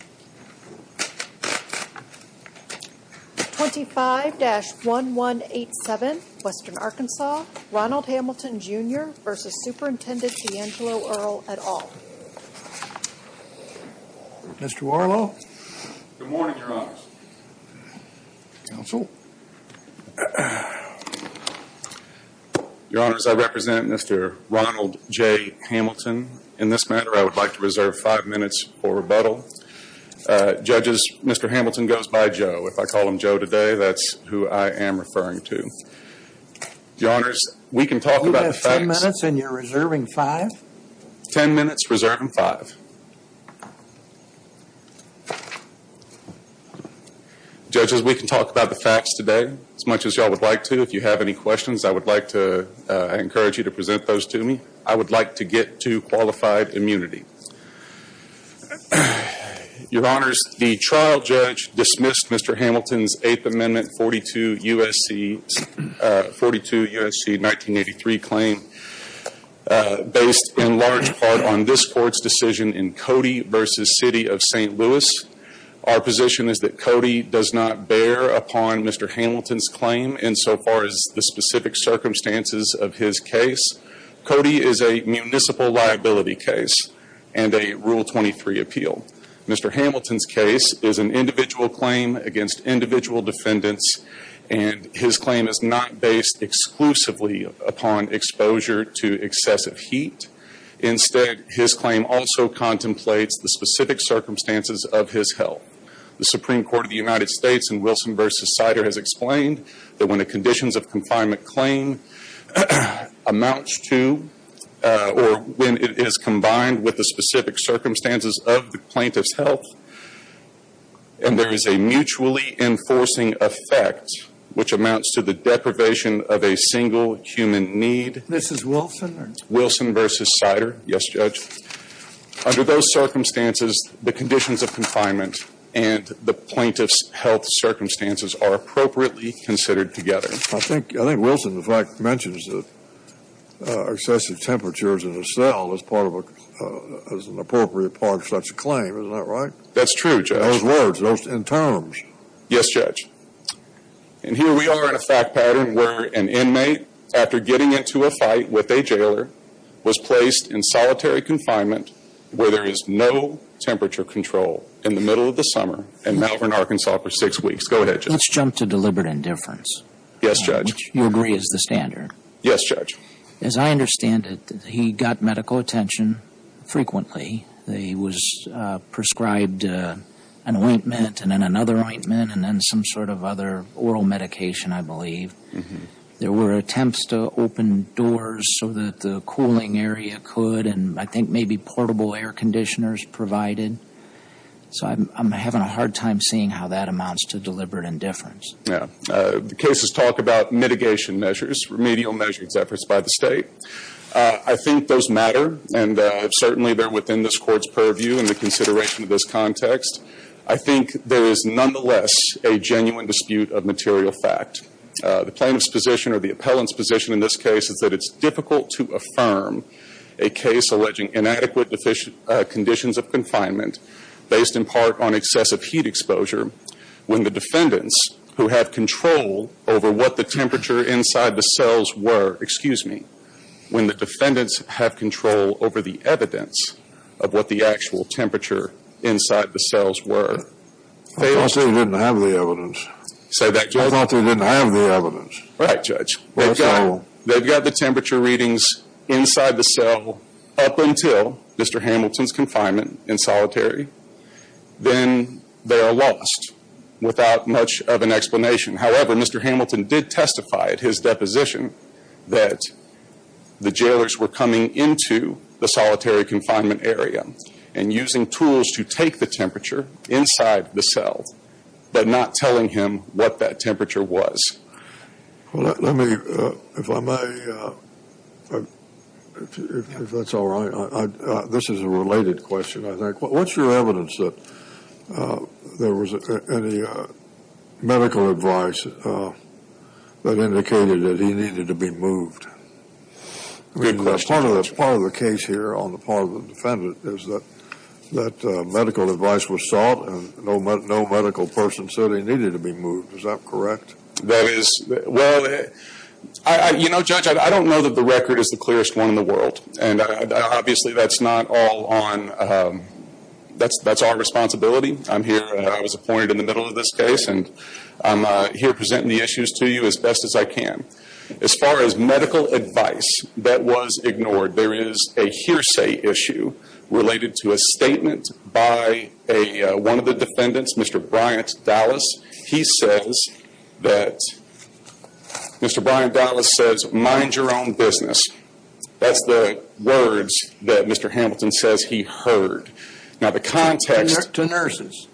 at all. Mr. Warlow. Good morning, Your Honors. Counsel. Your Honors, I represent Mr. Ronald J. Hamilton. In this matter, I would like to reserve five minutes for rebuttal. Judges, Mr. Hamilton goes by Joe. If I call him Joe today, that's who I am referring to. Your Honors, we can talk about the facts. You have ten minutes and you're reserving five? Ten minutes, reserving five. Judges, we can talk about the facts today as much as you all would like to. If you have any questions, I would like to encourage you to present those to me. I would like to get to qualified immunity. Your Honors, the trial judge dismissed Mr. Hamilton's 8th Amendment 42 U.S.C. 1983 claim based in large part on this court's decision in Cody v. City of St. Louis. Our position is that Cody does not bear upon Mr. Hamilton's claim insofar as the specific circumstances of his case. Cody is a municipal liability case and a Rule 23 appeal. Mr. Hamilton's case is an individual claim against individual defendants and his claim is not based exclusively upon exposure to excessive heat. Instead, his claim also contemplates the specific circumstances of his health. The Supreme Court of the United States in Wilson v. Sider has explained that when a conditions of confinement claim amounts to or when it is combined with the specific circumstances of the plaintiff's health and there is a mutually enforcing effect which amounts to the deprivation of a single human need. This is Wilson? Wilson v. Sider. Yes, Judge. Under those circumstances, the conditions of confinement and the plaintiff's health circumstances are appropriately considered together. I think Wilson, in fact, mentions that excessive temperatures in a cell is an appropriate part of such a claim. Is that right? That's true, Judge. Those words, those terms. Yes, Judge. And here we are in a fact pattern where an inmate, after getting into a fight with a jailer, was placed in solitary confinement where there is no temperature control in the middle of the summer in Malvern, Arkansas for six weeks. Go ahead, Judge. Let's jump to deliberate indifference. Yes, Judge. Which you agree is the standard. Yes, Judge. As I understand it, he got medical attention frequently. He was prescribed an ointment and then another ointment and then some sort of other oral medication, I believe. There were attempts to open doors so that the cooling area could and I think maybe portable air conditioners provided. So I'm having a hard time seeing how that amounts to deliberate indifference. The cases talk about mitigation measures, remedial measures efforts by the State. I think those matter and certainly they're within this Court's purview in the consideration of this context. I think there is nonetheless a genuine dispute of material fact. The plaintiff's position or the appellant's position in this case is that it's difficult to affirm a case alleging inadequate conditions of confinement based in part on excessive heat exposure when the defendants who have control over what the temperature inside the cells were, excuse me, when the defendants have control over the evidence of what the actual temperature inside the cells were. I thought they didn't have the evidence. I thought they didn't have the evidence. Right, Judge. They've got the temperature readings inside the cell up until Mr. Hamilton's confinement in solitary. Then they are lost without much of an explanation. However, Mr. Hamilton did testify at his deposition that the jailers were coming into the solitary confinement area and using tools to take the temperature inside the cells but not telling him what that temperature was. Well, let me, if I may, if that's all right, this is a related question, I think. What's your evidence that there was any medical advice that indicated that he needed to be moved? Good question. Part of the case here on the part of the defendant is that medical advice was sought and no medical person said he needed to be moved. Is that correct? That is. Well, you know, Judge, I don't know that the record is the clearest one in the world, and obviously that's not all on, that's our responsibility. I'm here, I was appointed in the middle of this case, and I'm here presenting the issues to you as best as I can. As far as medical advice, that was ignored. There is a hearsay issue related to a statement by one of the defendants, Mr. Bryant Dallas. He says that, Mr. Bryant Dallas says, mind your own business. That's the words that Mr. Hamilton says he heard. Now, the context. Connect to nurses.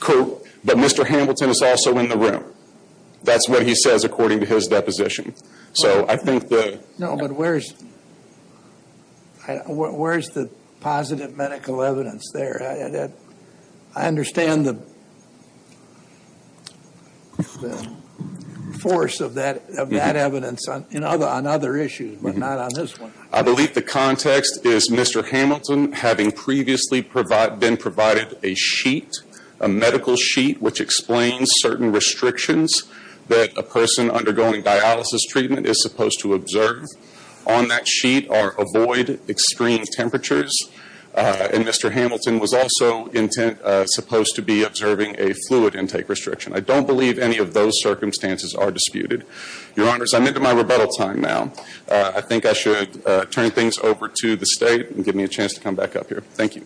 But Mr. Hamilton is also in the room. That's what he says according to his deposition. So I think the No, but where is the positive medical evidence there? I understand the force of that evidence on other issues, but not on this one. I believe the context is Mr. Hamilton having previously been provided a sheet, a medical sheet which explains certain restrictions that a person undergoing dialysis treatment is supposed to observe. On that sheet are avoid extreme temperatures, and Mr. Hamilton was also supposed to be observing a fluid intake restriction. I don't believe any of those circumstances are disputed. Your Honors, I'm into my rebuttal time now. I think I should turn things over to the State and give me a chance to come back up here. Thank you.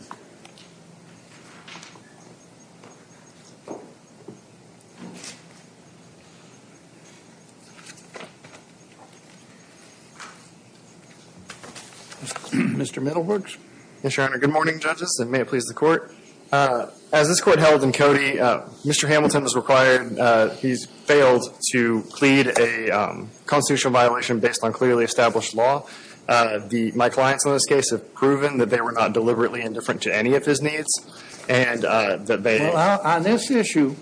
Mr. Middlebrooks. Good morning, Judges, and may it please the Court. As this Court held in Cody, Mr. Hamilton is required, he's failed to plead a constitutional violation based on clearly established law. My clients in this case have proven that they were not deliberately indifferent to any of his needs. Well, on this issue,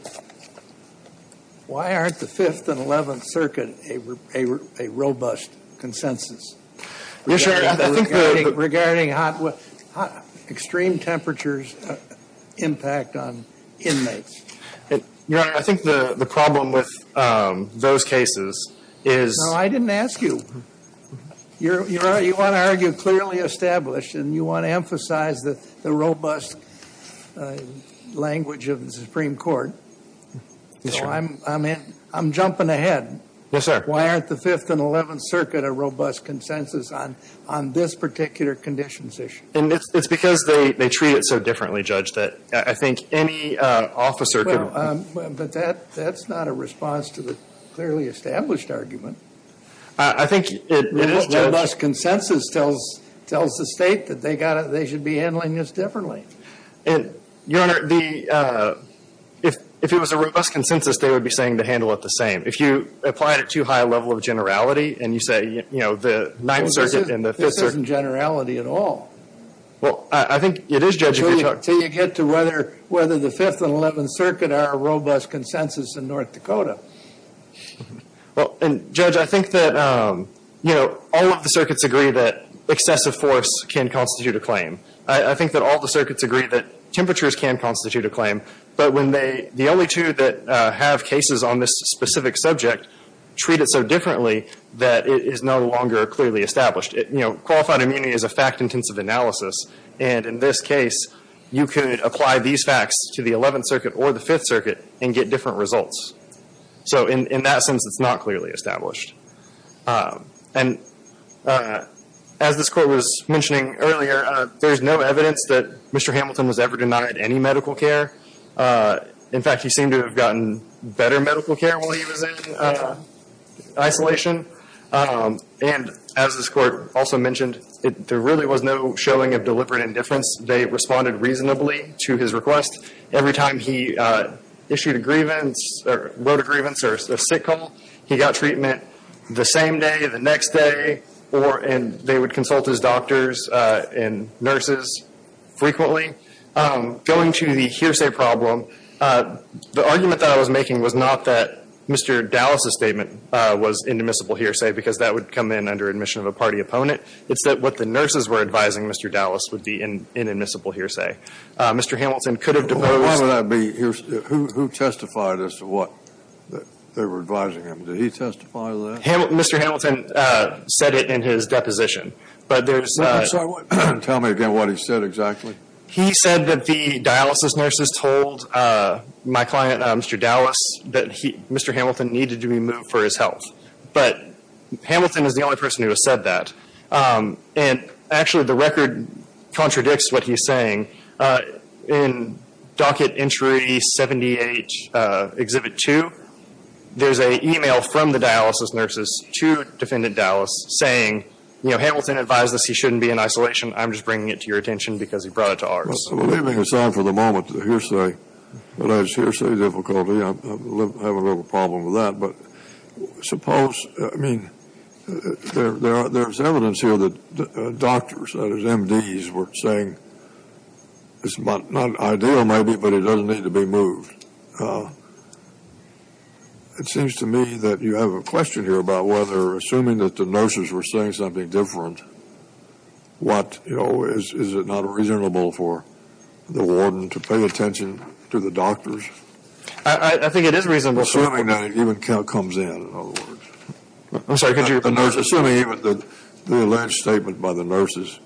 why aren't the Fifth and Eleventh Circuit a robust consensus? Regarding hot, extreme temperatures impact on inmates. Your Honor, I think the problem with those cases is No, I didn't ask you. Your Honor, you want to argue clearly established, and you want to emphasize the robust language of the Supreme Court. Yes, Your Honor. So I'm jumping ahead. Yes, sir. Why aren't the Fifth and Eleventh Circuit a robust consensus on this particular conditions issue? It's because they treat it so differently, Judge, that I think any officer could But that's not a response to the clearly established argument. I think it is, Judge. Robust consensus tells the State that they should be handling this differently. Your Honor, if it was a robust consensus, they would be saying to handle it the same. If you apply it at too high a level of generality, and you say, you know, the Ninth Circuit and the Fifth Circuit This isn't generality at all. Well, I think it is, Judge. Until you get to whether the Fifth and Eleventh Circuit are a robust consensus in North Dakota. Well, and Judge, I think that, you know, all of the circuits agree that excessive force can constitute a claim. I think that all the circuits agree that temperatures can constitute a claim. But when the only two that have cases on this specific subject treat it so differently that it is no longer clearly established. You know, qualified immunity is a fact-intensive analysis. And in this case, you could apply these facts to the Eleventh Circuit or the Fifth Circuit and get different results. So in that sense, it's not clearly established. And as this Court was mentioning earlier, there's no evidence that Mr. Hamilton was ever denied any medical care. In fact, he seemed to have gotten better medical care while he was in isolation. And as this Court also mentioned, there really was no showing of deliberate indifference. They responded reasonably to his request. Every time he issued a grievance or wrote a grievance or a sick call, he got treatment the same day, the next day. And they would consult his doctors and nurses frequently. Going to the hearsay problem, the argument that I was making was not that Mr. Dallas's statement was indemnifiable hearsay because that would come in under admission of a party opponent. It's that what the nurses were advising Mr. Dallas would be an indemnifiable hearsay. Mr. Hamilton could have deposed- Why would that be hearsay? Who testified as to what they were advising him? Did he testify to that? Mr. Hamilton said it in his deposition. But there's- I'm sorry. Tell me again what he said exactly. He said that the dialysis nurses told my client, Mr. Dallas, that Mr. Hamilton needed to be moved for his health. But Hamilton is the only person who has said that. And, actually, the record contradicts what he's saying. In Docket Entry 78, Exhibit 2, there's an email from the dialysis nurses to Defendant Dallas saying, you know, Hamilton advised us he shouldn't be in isolation. I'm just bringing it to your attention because he brought it to ours. Well, leaving aside for the moment the hearsay, unless hearsay difficulty, I have a little problem with that. But suppose, I mean, there's evidence here that doctors, that is, MDs, were saying it's not ideal, maybe, but he doesn't need to be moved. It seems to me that you have a question here about whether, assuming that the nurses were saying something different, what, you know, is it not reasonable for the warden to pay attention to the doctors? I think it is reasonable. Assuming that it even comes in, in other words. I'm sorry, could you- Assuming even the alleged statement by the nurses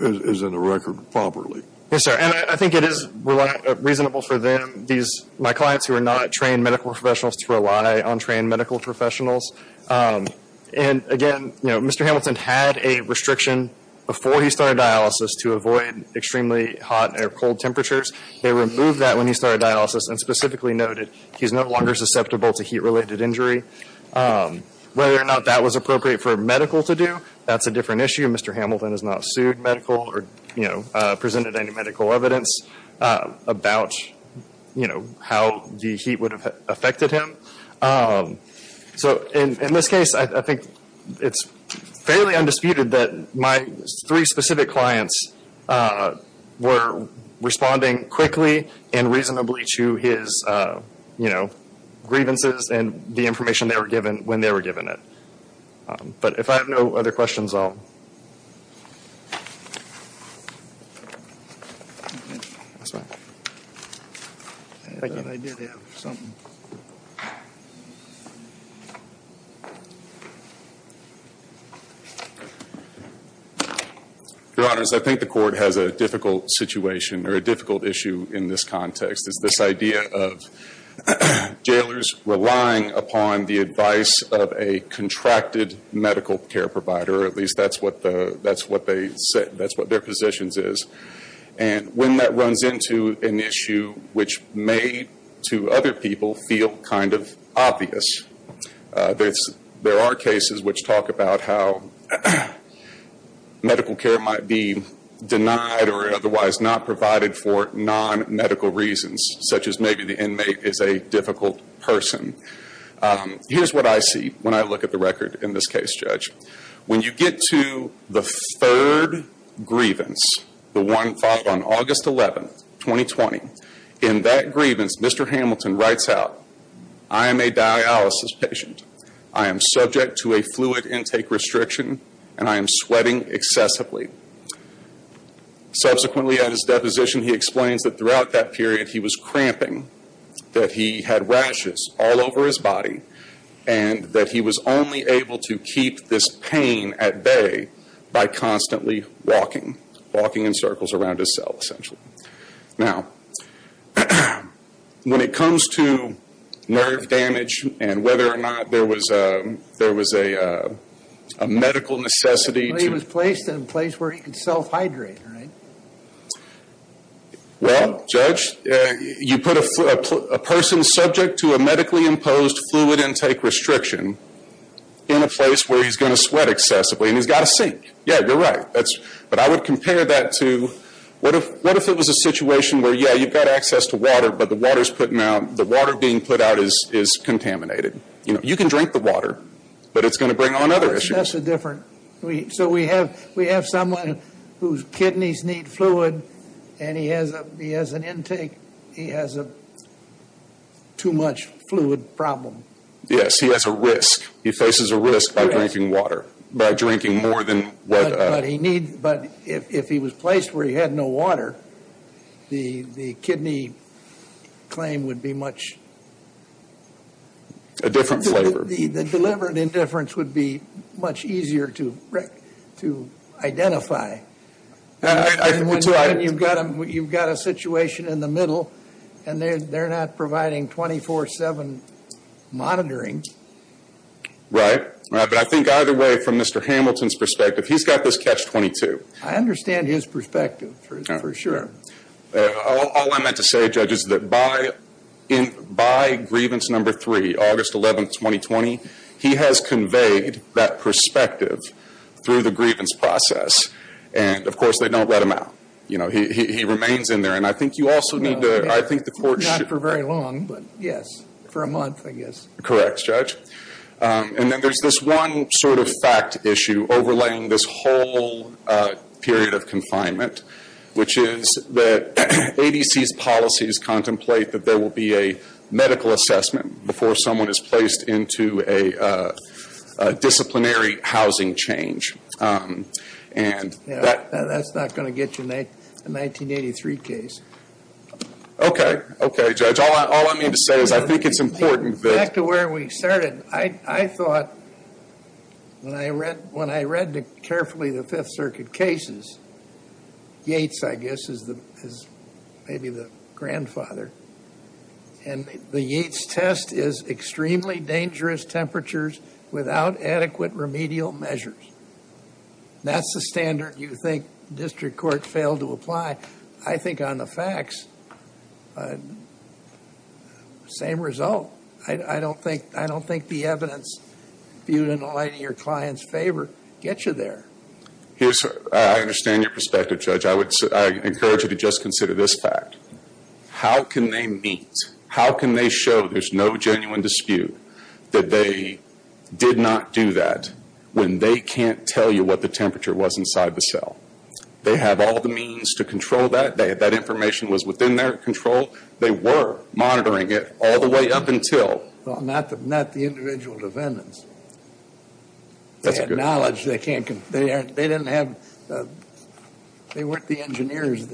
is in the record properly. Yes, sir. And I think it is reasonable for them, my clients who are not trained medical professionals, to rely on trained medical professionals. And, again, you know, Mr. Hamilton had a restriction before he started dialysis to avoid extremely hot or cold temperatures. They removed that when he started dialysis and specifically noted he's no longer susceptible to heat-related injury. Whether or not that was appropriate for medical to do, that's a different issue. Mr. Hamilton has not sued medical or, you know, presented any medical evidence about, you know, how the heat would have affected him. So, in this case, I think it's fairly undisputed that my three specific clients were responding quickly and reasonably to his, you know, grievances and the information they were given when they were given it. But if I have no other questions, I'll- Your Honors, I think the Court has a difficult situation or a difficult issue in this context. It's this idea of jailers relying upon the advice of a contracted medical care provider. At least that's what their positions is. And when that runs into an issue which may, to other people, feel kind of obvious, there are cases which talk about how medical care might be denied or otherwise not provided for non-medical reasons, such as maybe the inmate is a difficult person. Here's what I see when I look at the record in this case, Judge. When you get to the third grievance, the one filed on August 11, 2020, in that grievance, Mr. Hamilton writes out, I am a dialysis patient, I am subject to a fluid intake restriction, and I am sweating excessively. Subsequently, at his deposition, he explains that throughout that period he was cramping, that he had rashes all over his body, and that he was only able to keep this pain at bay by constantly walking, walking in circles around his cell, essentially. Now, when it comes to nerve damage and whether or not there was a medical necessity to... He was placed in a place where he could self-hydrate, right? Well, Judge, you put a person subject to a medically imposed fluid intake restriction in a place where he's going to sweat excessively, and he's got to sink. Yeah, you're right. But I would compare that to, what if it was a situation where, yeah, you've got access to water, but the water being put out is contaminated? You know, you can drink the water, but it's going to bring on other issues. That's a different... So we have someone whose kidneys need fluid, and he has an intake. He has too much fluid problem. Yes, he has a risk. He faces a risk by drinking water, by drinking more than what... But if he was placed where he had no water, the kidney claim would be much... A different flavor. The deliberate indifference would be much easier to identify. And when you've got a situation in the middle, and they're not providing 24-7 monitoring. Right, but I think either way, from Mr. Hamilton's perspective, he's got this catch-22. I understand his perspective, for sure. All I meant to say, Judge, is that by grievance number three, August 11, 2020, he has conveyed that perspective through the grievance process. And, of course, they don't let him out. He remains in there, and I think you also need to... Not for very long, but yes, for a month, I guess. Correct, Judge. And then there's this one sort of fact issue overlaying this whole period of confinement, which is that ADC's policies contemplate that there will be a medical assessment before someone is placed into a disciplinary housing change. That's not going to get you a 1983 case. Okay, okay, Judge. All I mean to say is I think it's important that... That's where we started. I thought when I read carefully the Fifth Circuit cases, Yates, I guess, is maybe the grandfather, and the Yates test is extremely dangerous temperatures without adequate remedial measures. That's the standard you think district courts fail to apply. I think on the facts, same result. I don't think the evidence viewed in the light of your client's favor gets you there. I understand your perspective, Judge. I encourage you to just consider this fact. How can they meet? How can they show there's no genuine dispute that they did not do that when they can't tell you what the temperature was inside the cell? They have all the means to control that. That information was within their control. They were monitoring it all the way up until... Not the individual defendants. They had knowledge. They didn't have... They weren't the engineers.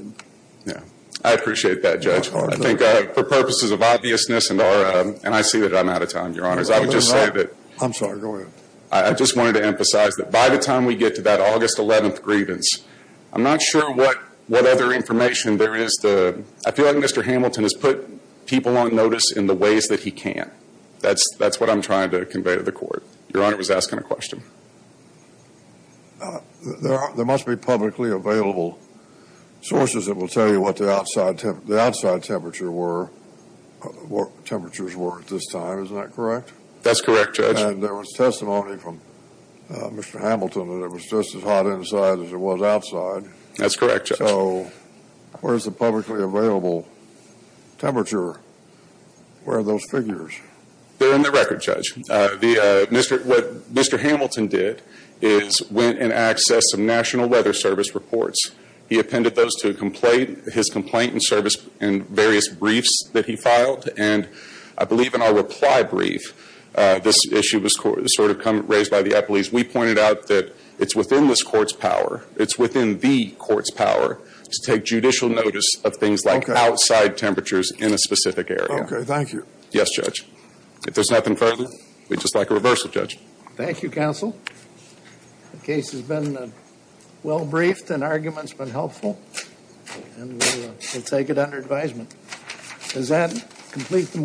I appreciate that, Judge. For purposes of obviousness, and I see that I'm out of time, Your Honors, I would just say that... I'm sorry, go ahead. I just wanted to emphasize that by the time we get to that August 11th grievance, I'm not sure what other information there is to... I feel like Mr. Hamilton has put people on notice in the ways that he can. That's what I'm trying to convey to the Court. Your Honor was asking a question. There must be publicly available sources that will tell you what the outside temperature were, what the temperatures were at this time. Isn't that correct? That's correct, Judge. And there was testimony from Mr. Hamilton that it was just as hot inside as it was outside. That's correct, Judge. So where is the publicly available temperature? Where are those figures? They're in the record, Judge. What Mr. Hamilton did is went and accessed some National Weather Service reports. He appended those to his complaint and service and various briefs that he filed. And I believe in our reply brief, this issue was sort of raised by the Eppley's. We pointed out that it's within this Court's power. It's within the Court's power to take judicial notice of things like outside temperatures in a specific area. Okay. Thank you. Yes, Judge. If there's nothing further, we'd just like a reversal, Judge. Thank you, Counsel. The case has been well briefed and arguments have been helpful. And we'll take it under advisement. Does that complete the motion?